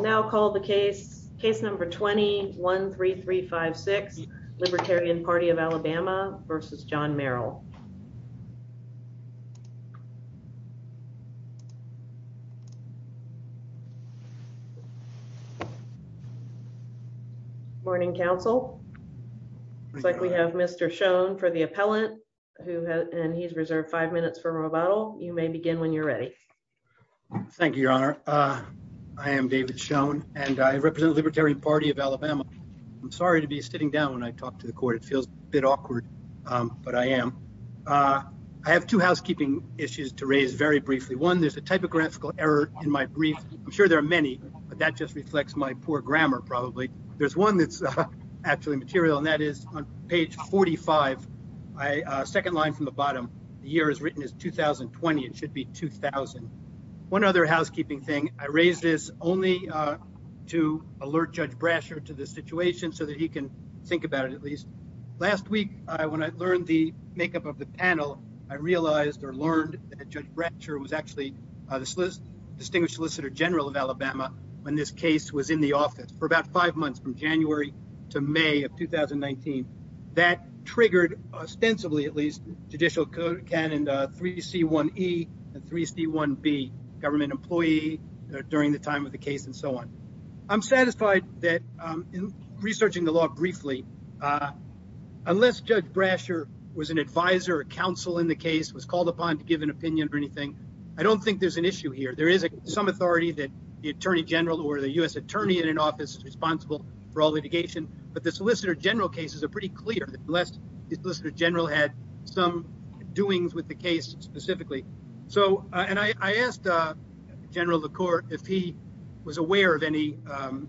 Now call the case. Case number 20-13356, Libertarian Party of Alabama v. John Merrill. Morning, Council. Looks like we have Mr. Schoen for the appellant, and he's reserved five minutes for rebuttal. You may begin when you're ready. Thank you, Your Honor. I am David Schoen, and I represent the Libertarian Party of Alabama. I'm sorry to be sitting down when I talk to the court. It feels a bit awkward, but I am. I have two housekeeping issues to raise very briefly. One, there's a typographical error in my brief. I'm sure there are many, but that just reflects my poor grammar, probably. There's one that's actually material, and that is on page 45, second line from the bottom. The year is written as 2020. It should be 2000. One other housekeeping thing, I raised this only to alert Judge Brasher to the situation so that he can think about it at least. Last week, when I learned the makeup of the panel, I realized or learned that Judge Brasher was actually the distinguished solicitor general of Alabama when this case was in the office for about five months, from January to May of 2019. That triggered, ostensibly at least, judicial canon 3C1E and 3C1B, government employee during the time of the case and so on. I'm satisfied that in researching the law briefly, unless Judge Brasher was an advisor or counsel in the case, was called upon to give an opinion or anything, I don't think there's an issue here. There is some authority that the attorney general or the U.S. attorney in an office is responsible for all litigation, but the solicitor general cases are pretty clear, unless the solicitor general had some doings with the case specifically. I asked General LaCour if he was aware of any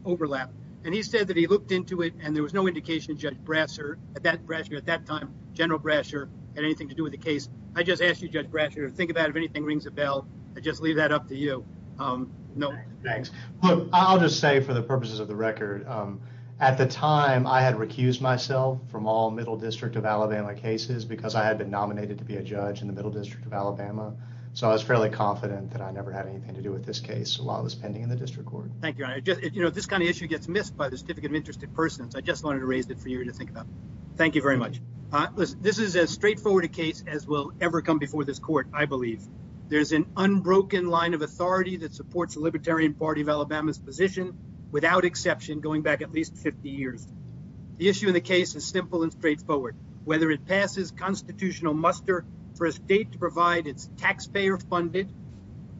overlap, and he said that he looked into it and there was no indication of Judge Brasher at that time, General Brasher, had anything to do with the case. I just ask you, Judge Brasher, think about if anything rings a bell, I just leave that up to you. I'll just say for the purposes of the record, at the time I had recused myself from all Middle District of Alabama cases because I had been nominated to be a judge in the Middle District of Alabama. So I was fairly confident that I never had anything to do with this case while I was pending in the district court. Thank you, Your Honor. This kind of issue gets missed by the certificate of interest of persons. I just wanted to raise it for you to think about. Thank you very much. This is as straightforward a case as will ever come before this court, I believe. There's an unbroken line of authority that supports the Libertarian Party of Alabama's position, without exception, going back at least 50 years. The issue in the case is simple and straightforward. Whether it passes constitutional muster for a state to provide its taxpayer-funded,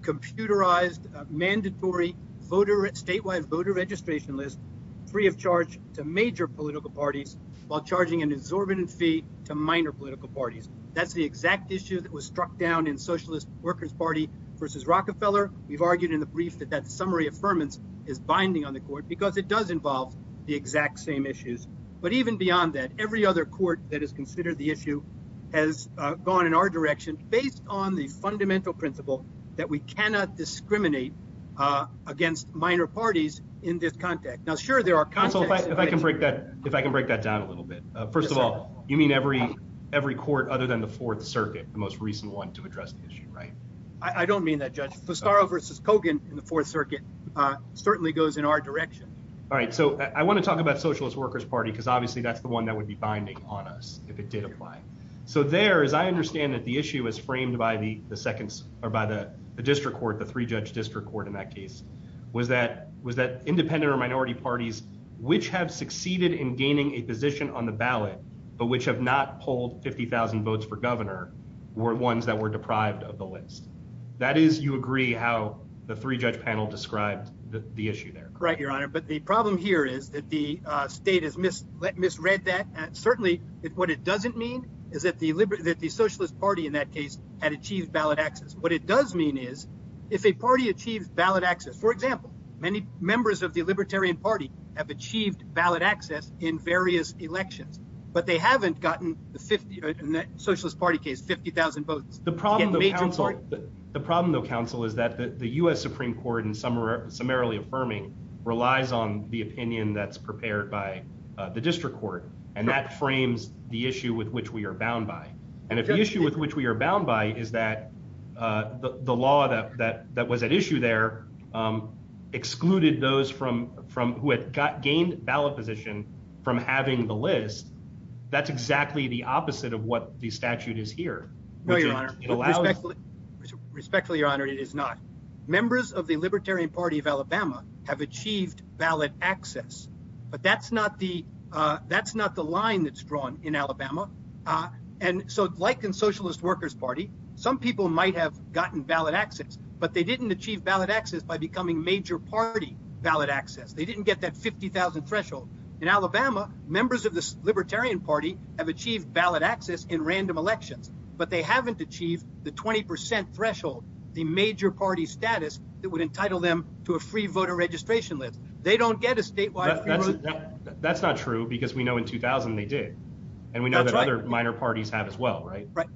computerized, mandatory statewide voter registration list free of charge to major political parties while charging an exorbitant fee to minor political parties. That's the exact issue that was struck down in Socialist Workers' Party v. Rockefeller. We've argued in the brief that that summary affirmance is binding on the court because it does involve the exact same issues. But even beyond that, every other court that has considered the issue has gone in our direction based on the fundamental principle that we cannot discriminate against minor parties in this context. Now, sure, there are contexts. Counsel, if I can break that down a little bit. First of all, you mean every court other than the Fourth Circuit, the most recent one to address the issue, right? I don't mean that, Judge. Fostaro v. Kogan in the Fourth Circuit certainly goes in our direction. All right, so I want to talk about Socialist Workers' Party because obviously that's the one that would be binding on us if it did apply. So there, as I understand it, the issue is framed by the district court, the three-judge district court in that case, was that independent or minority parties which have succeeded in gaining a position on the ballot but which have not polled 50,000 votes for governor were ones that were deprived of the list. That is, you agree, how the three-judge panel described the issue there? Right, Your Honor, but the problem here is that the state has misread that. Certainly, what it doesn't mean is that the Socialist Party in that case had achieved ballot access. What it does mean is if a party achieves ballot access, for example, many members of the Libertarian Party have achieved ballot access in various elections, but they haven't gotten, in the Socialist Party case, 50,000 votes. The problem though, counsel, is that the U.S. Supreme Court in summarily affirming relies on the opinion that's prepared by the district court, and that frames the issue with which we are bound by. And if the issue with which we are bound by is that the law that was at issue there excluded those who had gained ballot position from having the list, that's exactly the opposite of what the statute is here. Respectfully, Your Honor, it is not. Members of the Libertarian Party of Alabama have achieved ballot access, but that's not the line that's drawn in Alabama. And so like in Socialist Workers Party, some people might have gotten ballot access, but they didn't achieve ballot access by becoming major party ballot access. They didn't get that 50,000 threshold. In Alabama, members of the Libertarian Party have achieved ballot access in random elections, but they haven't achieved the 20% threshold, the major party status that would entitle them to a free voter registration list. They don't get a statewide free vote. That's not true because we know in 2000 they did. And we know that other minor parties have as well, right? Right.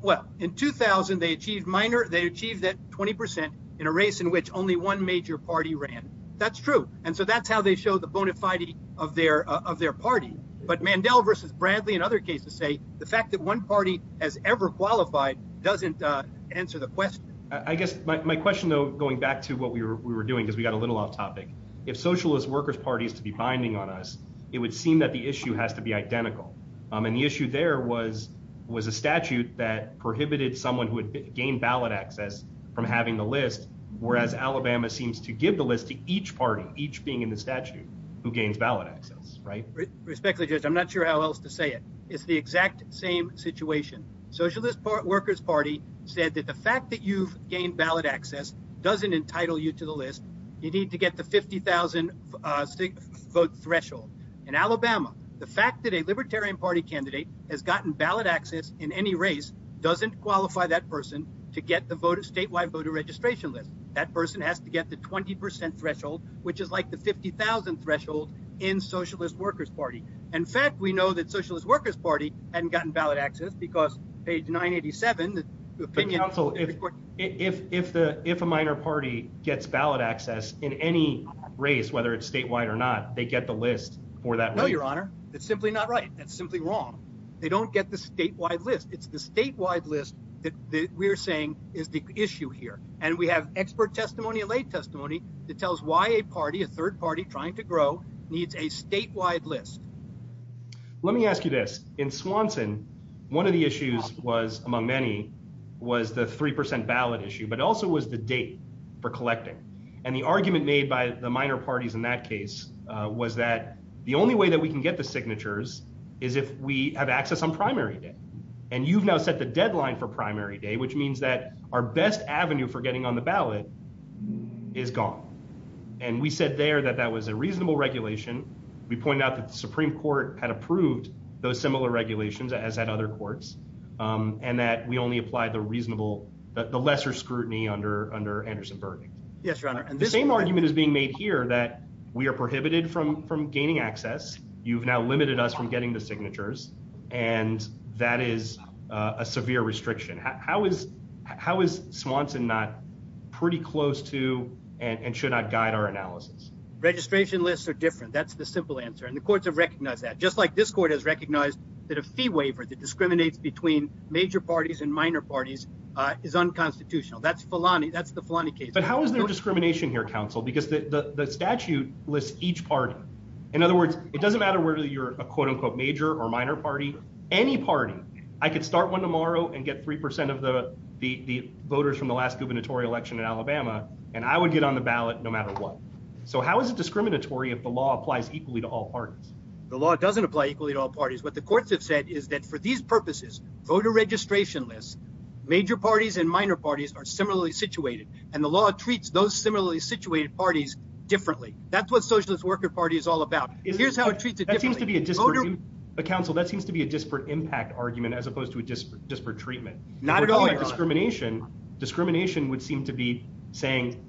Well, in 2000 they achieved minor, they achieved that 20% in a race in which only one major party ran. That's true. And so that's how they show the bona fide of their of their party. But Mandel versus Bradley and other cases say the fact that one party has ever qualified doesn't answer the question. I guess my question, though, going back to what we were doing is we got a little off topic. If Socialist Workers Party is to be binding on us, it would seem that the issue has to be identical. And the issue there was was a statute that prohibited someone who had gained ballot access from having the list, whereas Alabama seems to give the list to each party, each being in the statute, who gains ballot access. Right. Respectfully, Judge, I'm not sure how else to say it. It's the exact same situation. Socialist Workers Party said that the fact that you've gained ballot access doesn't entitle you to the list. You need to get the 50,000 vote threshold. In Alabama, the fact that a Libertarian Party candidate has gotten ballot access in any race doesn't qualify that person to get the vote of statewide voter registration list. That person has to get the 20 percent threshold, which is like the 50,000 threshold in Socialist Workers Party. In fact, we know that Socialist Workers Party hadn't gotten ballot access because page 987, the opinion. If the if a minor party gets ballot access in any race, whether it's statewide or not, they get the list for that. No, Your Honor, it's simply not right. That's simply wrong. They don't get the statewide list. It's the statewide list that we're saying is the issue here. And we have expert testimony, a late testimony that tells why a party, a third party trying to grow needs a statewide list. Let me ask you this in Swanson. One of the issues was among many was the 3 percent ballot issue, but also was the date for collecting. And the argument made by the minor parties in that case was that the only way that we can get the signatures is if we have access on primary day. And you've now set the deadline for primary day, which means that our best avenue for getting on the ballot is gone. And we said there that that was a reasonable regulation. We pointed out that the Supreme Court had approved those similar regulations, as had other courts, and that we only applied the reasonable the lesser scrutiny under under Anderson-Burdick. Yes, Your Honor. The same argument is being made here that we are prohibited from from gaining access. You've now limited us from getting the signatures. And that is a severe restriction. How is how is Swanson not pretty close to and should not guide our analysis? Registration lists are different. That's the simple answer. And the courts have recognized that, just like this court has recognized that a fee waiver that discriminates between major parties and minor parties is unconstitutional. That's Fulani. But how is there discrimination here, counsel? Because the statute lists each party. In other words, it doesn't matter whether you're a quote unquote major or minor party. Any party. I could start one tomorrow and get 3% of the voters from the last gubernatorial election in Alabama, and I would get on the ballot no matter what. So how is it discriminatory if the law applies equally to all parties? The law doesn't apply equally to all parties. What the courts have said is that for these purposes, voter registration lists, major parties and minor parties are similarly situated. And the law treats those similarly situated parties differently. That's what Socialist Worker Party is all about. Here's how it treats it. It seems to be a dispute. But counsel, that seems to be a disparate impact argument as opposed to a disparate treatment. Not at all. Discrimination. Discrimination would seem to be saying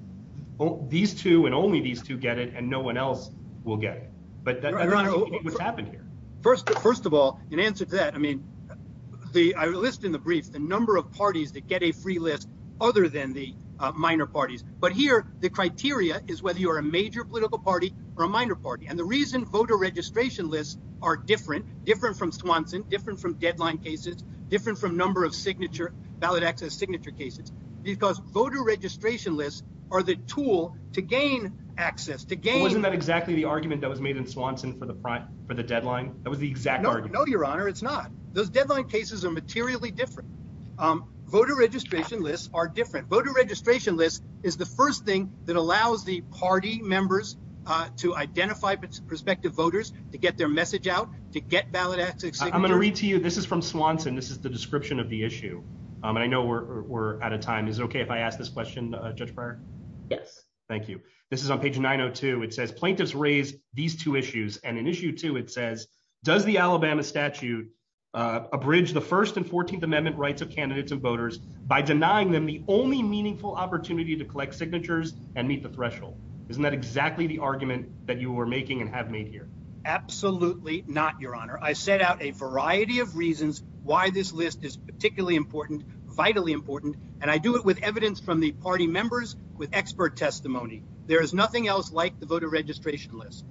these two and only these two get it and no one else will get it. But what happened here? First of all, in answer to that, I mean, I list in the brief the number of parties that get a free list other than the minor parties. But here the criteria is whether you are a major political party or a minor party. And the reason voter registration lists are different, different from Swanson, different from deadline cases, different from number of signature, ballot access signature cases, because voter registration lists are the tool to gain access, to gain. Wasn't that exactly the argument that was made in Swanson for the deadline? That was the exact. No, Your Honor, it's not. Those deadline cases are materially different. Voter registration lists are different. Voter registration list is the first thing that allows the party members to identify prospective voters, to get their message out, to get ballot access. I'm going to read to you. This is from Swanson. This is the description of the issue. And I know we're out of time. Is it OK if I ask this question, Judge Breyer? Yes. Thank you. This is on page 902. It says plaintiffs raise these two issues. And in issue two, it says, does the Alabama statute abridge the First and 14th Amendment rights of candidates and voters by denying them the only meaningful opportunity to collect signatures and meet the threshold? Isn't that exactly the argument that you were making and have made here? Absolutely not, Your Honor. I set out a variety of reasons why this list is particularly important, vitally important, and I do it with evidence from the party members with expert testimony. There is nothing else like the voter registration list.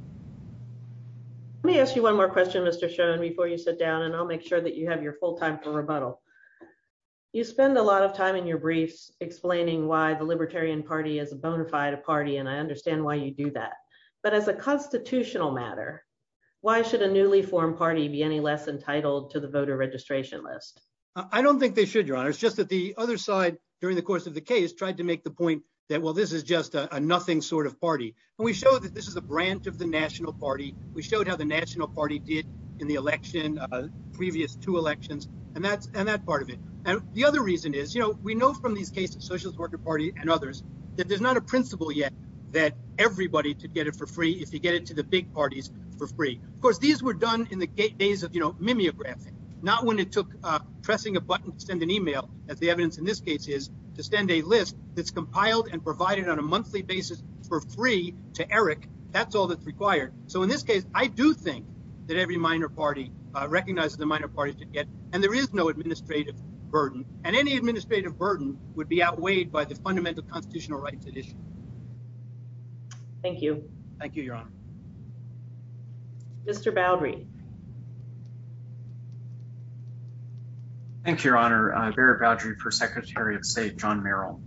Let me ask you one more question, Mr. Schoen, before you sit down, and I'll make sure that you have your full time for rebuttal. You spend a lot of time in your briefs explaining why the Libertarian Party is a bona fide party, and I understand why you do that. But as a constitutional matter, why should a newly formed party be any less entitled to the voter registration list? I don't think they should, Your Honor. It's just that the other side, during the course of the case, tried to make the point that, well, this is just a nothing sort of party. We showed that this is a branch of the National Party. We showed how the National Party did in the election, previous two elections, and that part of it. And the other reason is, you know, we know from these cases, Socialist Workers' Party and others, that there's not a principle yet that everybody could get it for free if you get it to the big parties for free. Of course, these were done in the days of, you know, mimeographing, not when it took pressing a button to send an email, as the evidence in this case is, to send a list that's compiled and provided on a monthly basis for free. To Eric, that's all that's required. So, in this case, I do think that every minor party recognizes the minor parties did get, and there is no administrative burden. And any administrative burden would be outweighed by the fundamental constitutional rights at issue. Thank you. Thank you, Your Honor. Mr. Boudry. Thank you, Your Honor. Barry Boudry for Secretary of State John Merrill.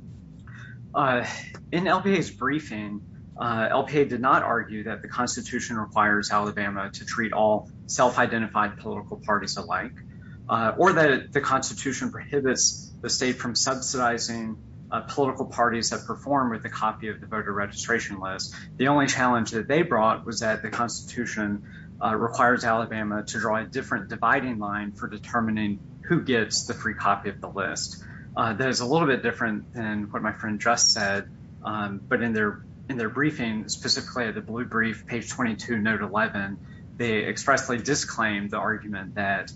In LPA's briefing, LPA did not argue that the Constitution requires Alabama to treat all self-identified political parties alike, or that the Constitution prohibits the state from subsidizing political parties that perform with a copy of the voter registration list. The only challenge that they brought was that the Constitution requires Alabama to draw a different dividing line for determining who gets the free copy of the list. That is a little bit different than what my friend just said, but in their briefing, specifically the blue brief, page 22, note 11, they expressly disclaimed the argument that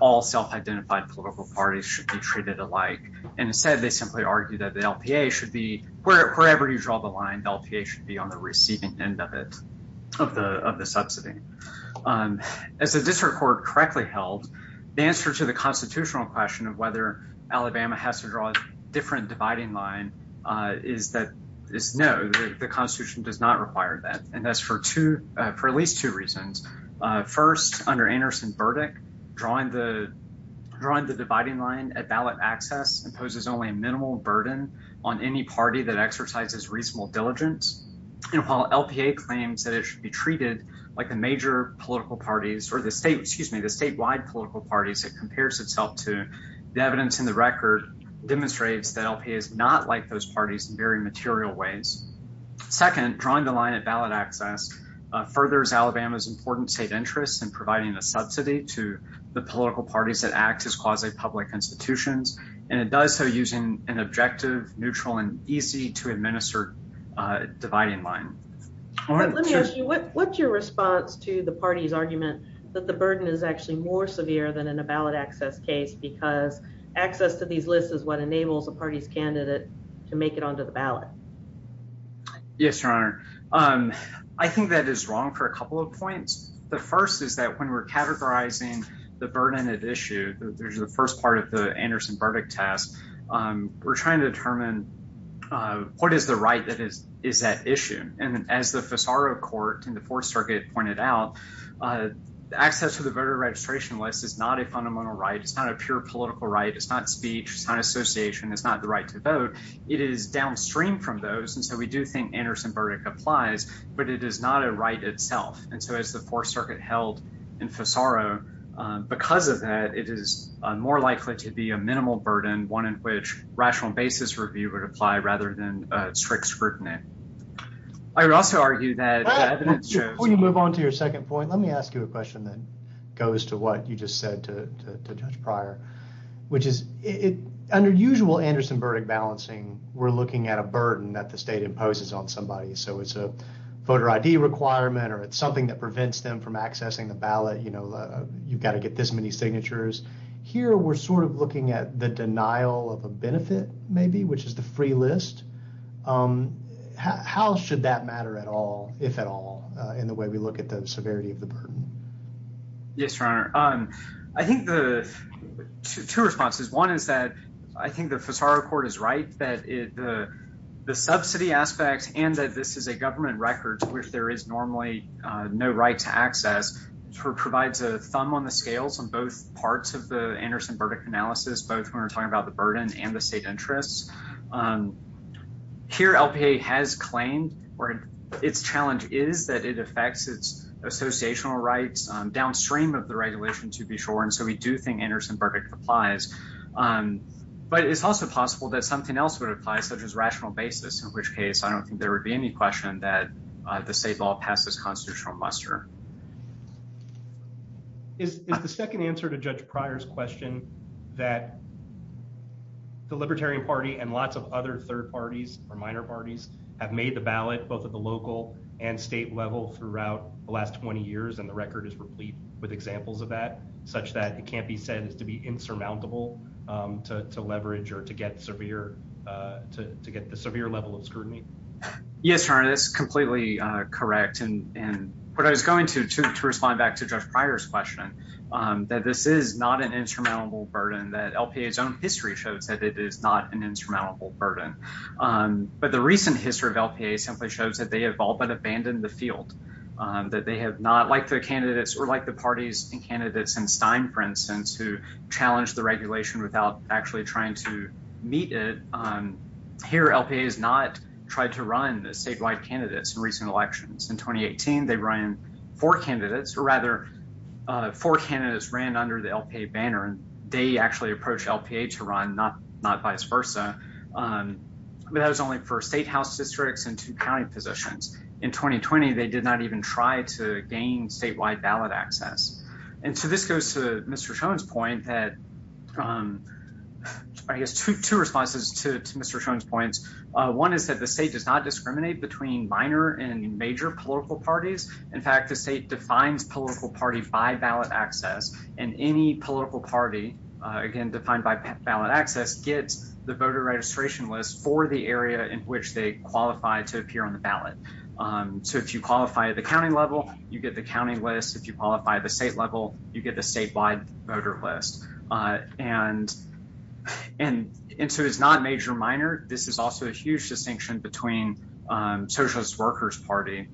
all self-identified political parties should be treated alike. And instead, they simply argued that the LPA should be, wherever you draw the line, the LPA should be on the receiving end of it, of the subsidy. As the district court correctly held, the answer to the constitutional question of whether Alabama has to draw a different dividing line is no, the Constitution does not require that. And that's for at least two reasons. First, under Anderson's verdict, drawing the dividing line at ballot access imposes only a minimal burden on any party that exercises reasonable diligence. And while LPA claims that it should be treated like the major political parties, or the statewide political parties it compares itself to, the evidence in the record demonstrates that LPA is not like those parties in very material ways. Second, drawing the line at ballot access furthers Alabama's important state interests in providing a subsidy to the political parties that act as quasi-public institutions, and it does so using an objective, neutral, and easy-to-administer dividing line. Let me ask you, what's your response to the party's argument that the burden is actually more severe than in a ballot access case because access to these lists is what enables a party's candidate to make it onto the ballot? Yes, Your Honor. I think that is wrong for a couple of points. The first is that when we're categorizing the burden of issue, the first part of the Anderson verdict test, we're trying to determine what is the right that is at issue. And as the Fisaro Court in the Fourth Circuit pointed out, access to the voter registration list is not a fundamental right, it's not a pure political right, it's not speech, it's not association, it's not the right to vote. It is downstream from those, and so we do think Anderson verdict applies, but it is not a right itself. And so as the Fourth Circuit held in Fisaro, because of that, it is more likely to be a minimal burden, one in which rational basis review would apply rather than strict scrutiny. I would also argue that the evidence shows— we're looking at a burden that the state imposes on somebody. So it's a voter ID requirement or it's something that prevents them from accessing the ballot. You know, you've got to get this many signatures. Here, we're sort of looking at the denial of a benefit, maybe, which is the free list. How should that matter at all, if at all, in the way we look at the severity of the burden? Yes, Your Honor. I think the—two responses. One is that I think the Fisaro court is right that the subsidy aspect and that this is a government record to which there is normally no right to access provides a thumb on the scales on both parts of the Anderson verdict analysis, both when we're talking about the burden and the state interests. Here, LPA has claimed or its challenge is that it affects its associational rights downstream of the regulation, to be sure. And so we do think Anderson verdict applies. But it's also possible that something else would apply, such as rational basis, in which case I don't think there would be any question that the state law passes constitutional muster. Is the second answer to Judge Pryor's question that the Libertarian Party and lots of other third parties or minor parties have made the ballot both at the local and state level throughout the last 20 years, and the record is replete with examples of that, such that it can't be said to be insurmountable to leverage or to get severe—to get the severe level of scrutiny? Yes, Your Honor, that's completely correct. And what I was going to respond back to Judge Pryor's question, that this is not an insurmountable burden, that LPA's own history shows that it is not an insurmountable burden. But the recent history of LPA simply shows that they have all but abandoned the field, that they have not, like the candidates or like the parties and candidates in Stein, for instance, who challenged the regulation without actually trying to meet it. Here, LPA has not tried to run statewide candidates in recent elections. In 2018, they ran four candidates, or rather, four candidates ran under the LPA banner, and they actually approached LPA to run, not vice versa. But that was only for state house districts and two county positions. In 2020, they did not even try to gain statewide ballot access. And so this goes to Mr. Schoen's point that—I guess two responses to Mr. Schoen's points. One is that the state does not discriminate between minor and major political parties. In fact, the state defines political party by ballot access, and any political party, again, defined by ballot access, gets the voter registration list for the area in which they qualify to appear on the ballot. So if you qualify at the county level, you get the county list. If you qualify at the state level, you get the statewide voter list. And so it's not major or minor. This is also a huge distinction between Socialist Workers Party.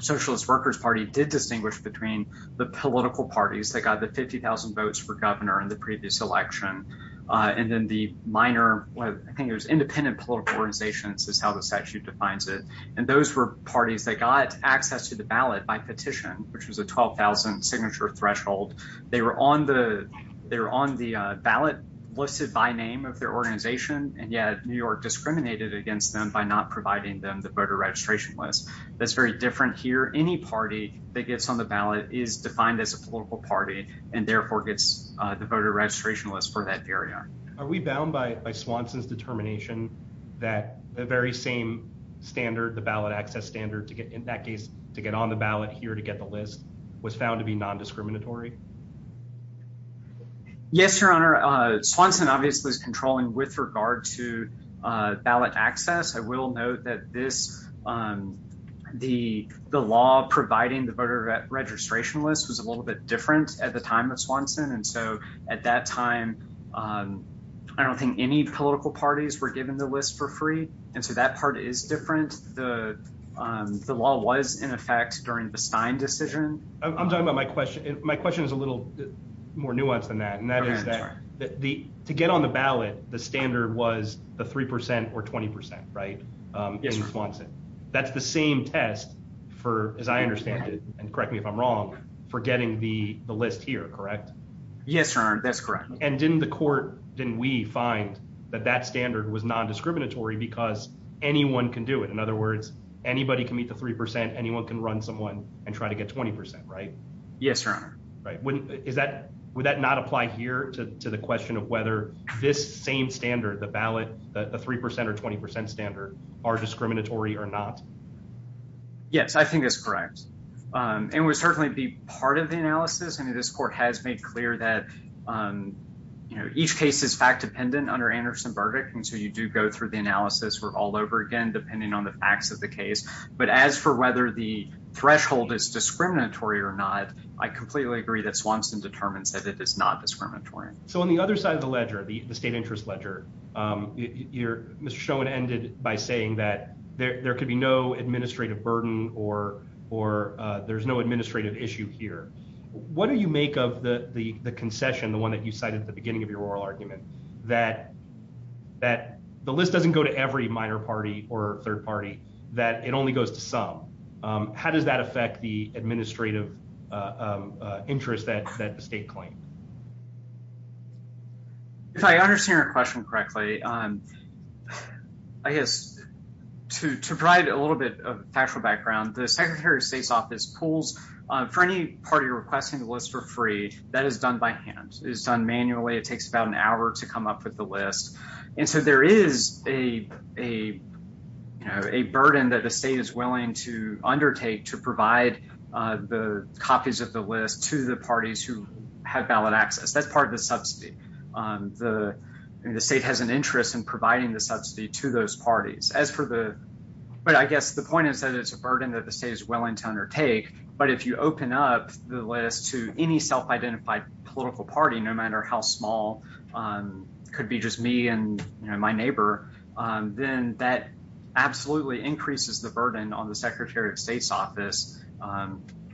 Socialist Workers Party did distinguish between the political parties that got the 50,000 votes for governor in the previous election. And then the minor—I think it was independent political organizations is how the statute defines it. And those were parties that got access to the ballot by petition, which was a 12,000 signature threshold. They were on the ballot listed by name of their organization, and yet New York discriminated against them by not providing them the voter registration list. That's very different here. Any party that gets on the ballot is defined as a political party and therefore gets the voter registration list for that area. Are we bound by Swanson's determination that the very same standard, the ballot access standard, to get on the ballot here to get the list, was found to be non-discriminatory? Yes, Your Honor. Swanson obviously is controlling with regard to ballot access. I will note that the law providing the voter registration list was a little bit different at the time of Swanson. And so at that time, I don't think any political parties were given the list for free. And so that part is different. The law was in effect during the Stein decision. I'm talking about my question. My question is a little more nuanced than that. To get on the ballot, the standard was the 3% or 20%, right? Yes, Your Honor. That's the same test for, as I understand it, and correct me if I'm wrong, for getting the list here, correct? Yes, Your Honor. That's correct. And didn't the court, didn't we find that that standard was non-discriminatory because anyone can do it? In other words, anybody can meet the 3%, anyone can run someone and try to get 20%, right? Yes, Your Honor. Would that not apply here to the question of whether this same standard, the ballot, the 3% or 20% standard, are discriminatory or not? Yes, I think that's correct. And it would certainly be part of the analysis. I mean, this court has made clear that each case is fact-dependent under Anderson verdict. And so you do go through the analysis all over again, depending on the facts of the case. But as for whether the threshold is discriminatory or not, I completely agree that Swanson determines that it is not discriminatory. So on the other side of the ledger, the state interest ledger, Mr. Schoen ended by saying that there could be no administrative burden or there's no administrative issue here. What do you make of the concession, the one that you cited at the beginning of your oral argument, that the list doesn't go to every minor party or third party, that it only goes to some? How does that affect the administrative interest that the state claimed? If I understand your question correctly, I guess to provide a little bit of factual background, the Secretary of State's office pulls for any party requesting the list for free, that is done by hand, is done manually. It takes about an hour to come up with the list. And so there is a burden that the state is willing to undertake to provide the copies of the list to the parties who have valid access. That's part of the subsidy. The state has an interest in providing the subsidy to those parties. But I guess the point is that it's a burden that the state is willing to undertake. But if you open up the list to any self-identified political party, no matter how small, it could be just me and my neighbor, then that absolutely increases the burden on the Secretary of State's office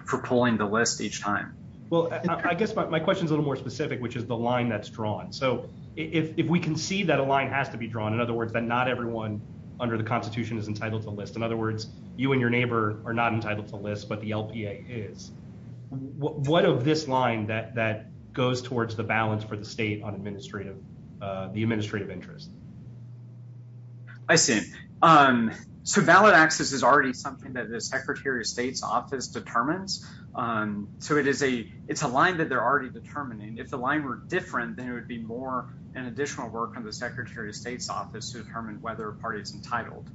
for pulling the list each time. Well, I guess my question is a little more specific, which is the line that's drawn. So if we can see that a line has to be drawn, in other words, that not everyone under the Constitution is entitled to list, in other words, you and your neighbor are not entitled to list, but the LPA is, what of this line that goes towards the balance for the state on the administrative interest? I see. So valid access is already something that the Secretary of State's office determines. So it's a line that they're already determining. If the line were different, then it would be more an additional work from the Secretary of State's office to determine whether a party is entitled.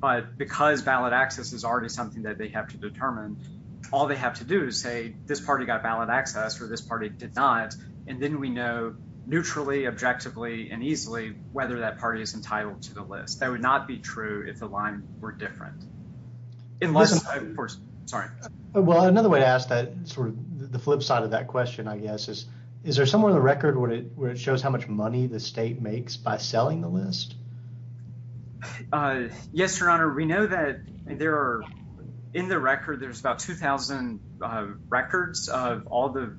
But because valid access is already something that they have to determine, all they have to do is say, this party got valid access or this party did not. And then we know neutrally, objectively, and easily whether that party is entitled to the list. That would not be true if the line were different. Unless, of course, sorry. Well, another way to ask that sort of the flip side of that question, I guess, is there somewhere in the record where it shows how much money the state makes by selling the list? Yes, Your Honor. We know that there are, in the record, there's about 2,000 records of all the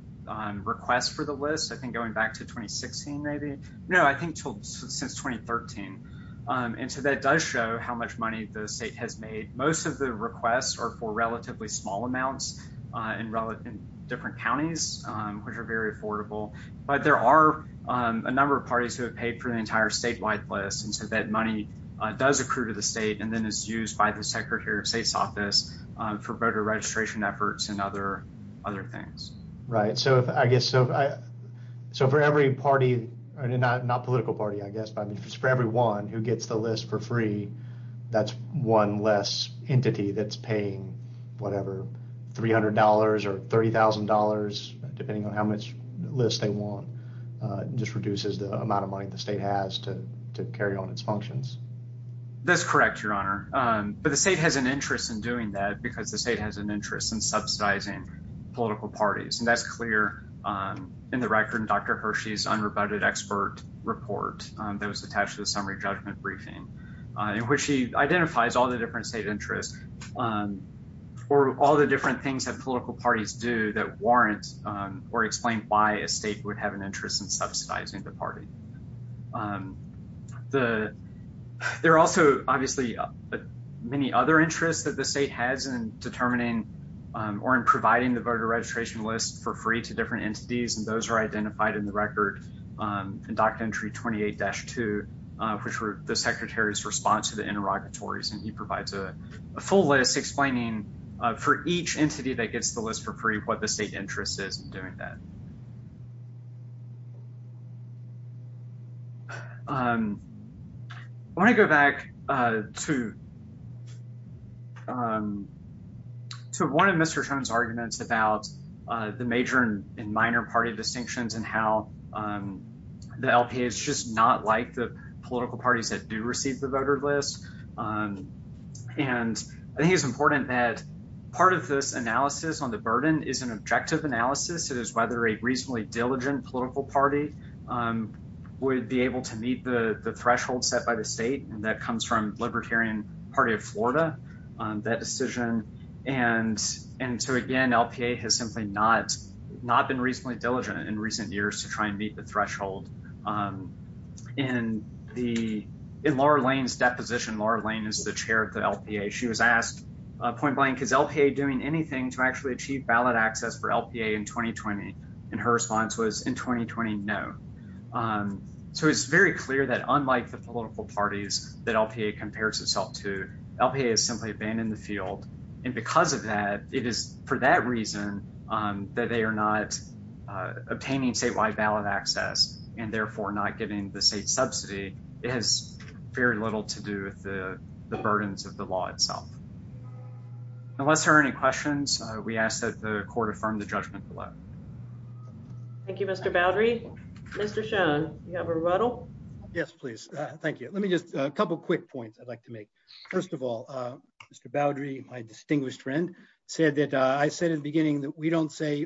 requests for the list. I think going back to 2016, maybe. No, I think since 2013. And so that does show how much money the state has made. Most of the requests are for relatively small amounts in different counties, which are very affordable. But there are a number of parties who have paid for the entire statewide list. And so that money does accrue to the state and then is used by the Secretary of State's office for voter registration efforts and other things. Right. So I guess, so for every party, not political party, I guess, but for everyone who gets the list for free, that's one less entity that's paying whatever, $300 or $30,000, depending on how much list they want. It just reduces the amount of money the state has to carry on its functions. That's correct, Your Honor. But the state has an interest in doing that because the state has an interest in subsidizing political parties. And that's clear in the record in Dr. Hershey's unrebutted expert report that was attached to the summary judgment briefing, in which he identifies all the different state interests or all the different things that political parties do that warrant or explain why a state would have an interest in subsidizing the party. There are also obviously many other interests that the state has in determining or in providing the voter registration list for free to different entities, and those are identified in the record in Doctrine entry 28-2, which were the Secretary's response to the interrogatories. And he provides a full list explaining for each entity that gets the list for free, what the state interest is in doing that. I want to go back to one of Mr. Stone's arguments about the major and minor party distinctions and how the LPA is just not like the political parties that do receive the voter list. And I think it's important that part of this analysis on the burden is an objective analysis. It is whether a reasonably diligent political party would be able to meet the threshold set by the state. And that comes from Libertarian Party of Florida, that decision. And so again, LPA has simply not been reasonably diligent in recent years to try and meet the threshold. In Laura Lane's deposition, Laura Lane is the chair of the LPA. She was asked, point blank, is LPA doing anything to actually achieve ballot access for LPA in 2020? And her response was in 2020, no. So it's very clear that unlike the political parties that LPA compares itself to, LPA has simply abandoned the field. And because of that, it is for that reason that they are not obtaining statewide ballot access and therefore not giving the state subsidy. It has very little to do with the burdens of the law itself. Unless there are any questions, we ask that the court affirm the judgment below. Thank you, Mr. Boudry. Mr. Schoen, you have a rebuttal? Yes, please. Thank you. Let me just, a couple quick points I'd like to make. First of all, Mr. Boudry, my distinguished friend, said that I said in the beginning that we don't say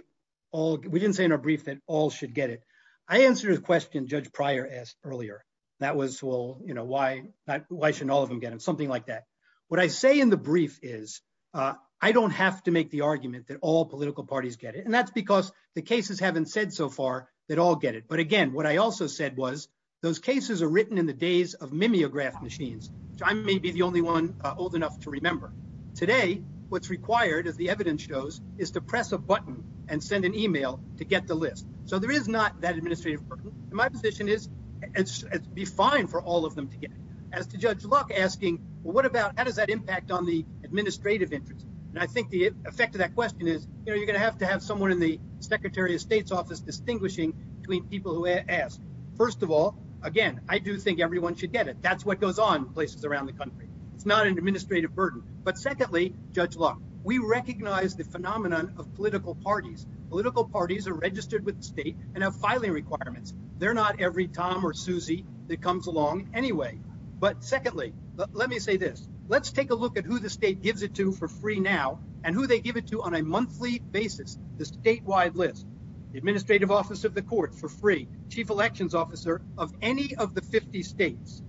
all, we didn't say in our brief that all should get it. That was a question Judge Pryor asked earlier. That was, well, you know, why shouldn't all of them get it? Something like that. What I say in the brief is, I don't have to make the argument that all political parties get it. And that's because the cases haven't said so far that all get it. But again, what I also said was, those cases are written in the days of mimeograph machines, which I may be the only one old enough to remember. Today, what's required, as the evidence shows, is to press a button and send an email to get the list. So there is not that administrative burden. And my position is, it'd be fine for all of them to get it. As to Judge Luck asking, well, what about, how does that impact on the administrative interest? And I think the effect of that question is, you know, you're going to have to have someone in the Secretary of State's office distinguishing between people who ask. First of all, again, I do think everyone should get it. That's what goes on in places around the country. It's not an administrative burden. But secondly, Judge Luck, we recognize the phenomenon of political parties. Political parties are registered with the state and have filing requirements. They're not every Tom or Susie that comes along anyway. But secondly, let me say this. Let's take a look at who the state gives it to for free now, and who they give it to on a monthly basis. The statewide list. The Administrative Office of the Court for free. Chief Elections Officer of any of the 50 states.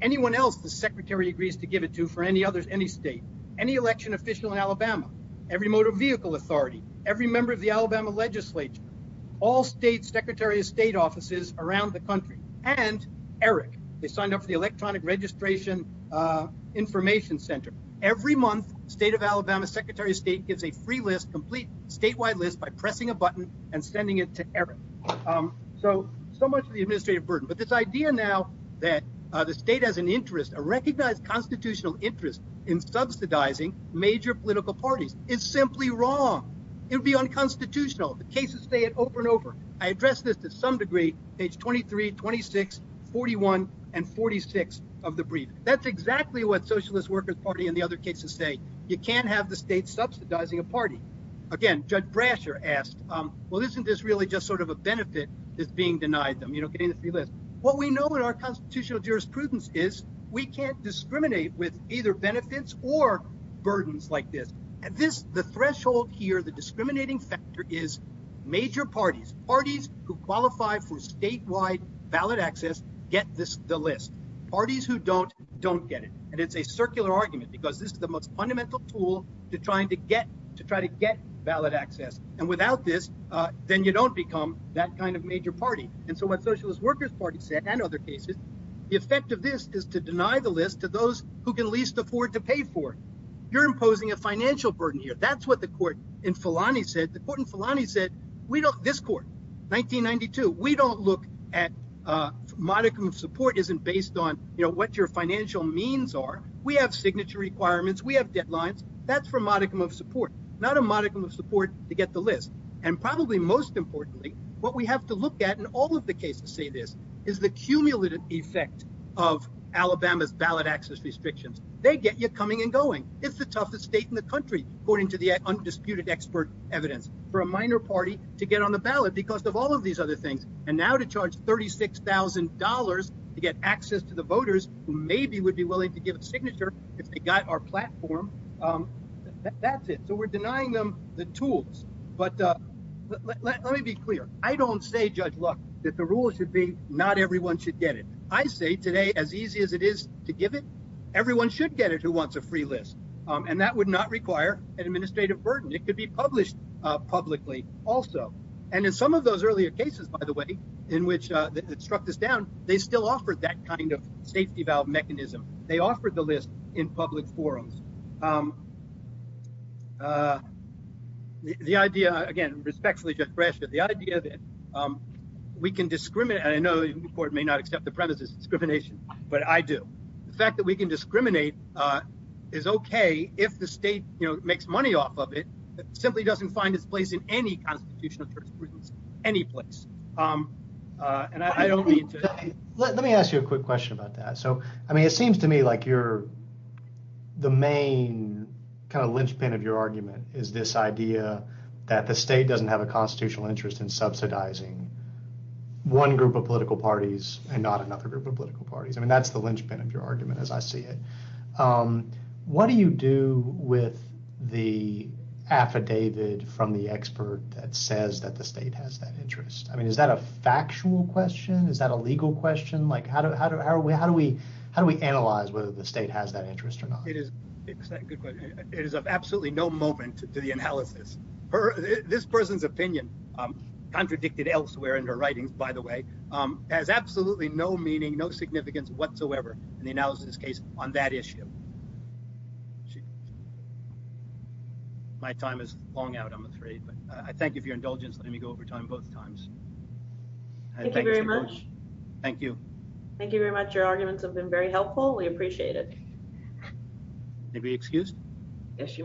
Anyone else the Secretary agrees to give it to for any other state. Any election official in Alabama. Every Motor Vehicle Authority. Every member of the Alabama legislature. All state Secretary of State offices around the country. And Eric. They signed up for the Electronic Registration Information Center. Every month, State of Alabama Secretary of State gives a free list, complete statewide list, by pressing a button and sending it to Eric. So, so much of the administrative burden. But this idea now that the state has an interest, a recognized constitutional interest, in subsidizing major political parties is simply wrong. It would be unconstitutional. The cases say it over and over. I address this to some degree. Page 23, 26, 41, and 46 of the briefing. That's exactly what Socialist Workers Party and the other cases say. You can't have the state subsidizing a party. Again, Judge Brasher asked, well, isn't this really just sort of a benefit is being denied them, you know, getting the free list. What we know in our constitutional jurisprudence is we can't discriminate with either benefits or burdens like this. And this, the threshold here, the discriminating factor is major parties. Parties who qualify for statewide valid access get the list. Parties who don't, don't get it. And it's a circular argument because this is the most fundamental tool to trying to get, to try to get valid access. And without this, then you don't become that kind of major party. And so what Socialist Workers Party said, and other cases, the effect of this is to deny the list to those who can least afford to pay for it. You're imposing a financial burden here. That's what the court in Fulani said. The court in Fulani said, we don't, this court, 1992, we don't look at, modicum of support isn't based on, you know, what your financial means are. We have signature requirements. We have deadlines. That's for modicum of support, not a modicum of support to get the list. And probably most importantly, what we have to look at in all of the cases say this, is the cumulative effect of Alabama's valid access restrictions. They get you coming and going. It's the toughest state in the country, according to the undisputed expert evidence, for a minor party to get on the ballot because of all of these other things. And now to charge $36,000 to get access to the voters who maybe would be willing to give a signature if they got our platform. That's it. So we're denying them the tools. But let me be clear. I don't say, Judge, look, that the rule should be not everyone should get it. I say today, as easy as it is to give it, everyone should get it who wants a free list. And that would not require an administrative burden. It could be published publicly also. And in some of those earlier cases, by the way, in which it struck this down, they still offered that kind of safety valve mechanism. They offered the list in public forums. The idea, again, respectfully, Judge Bradshaw, the idea that we can discriminate. I know the court may not accept the premise of discrimination, but I do. The fact that we can discriminate is OK if the state makes money off of it. It simply doesn't find its place in any constitutional jurisprudence, any place. And I don't mean to. Let me ask you a quick question about that. So, I mean, it seems to me like you're the main kind of linchpin of your argument is this idea that the state doesn't have a constitutional interest in subsidizing one group of political parties and not another group of political parties. I mean, that's the linchpin of your argument as I see it. What do you do with the affidavit from the expert that says that the state has that interest? I mean, is that a factual question? Is that a legal question? How do we analyze whether the state has that interest or not? It is of absolutely no moment to the analysis. This person's opinion, contradicted elsewhere in her writings, by the way, has absolutely no meaning, no significance whatsoever in the analysis case on that issue. My time is long out, I'm afraid, but I thank you for your indulgence. Let me go over time both times. Thank you very much. Thank you very much. Your arguments have been very helpful. We appreciate it. May we be excused? Yes, you may.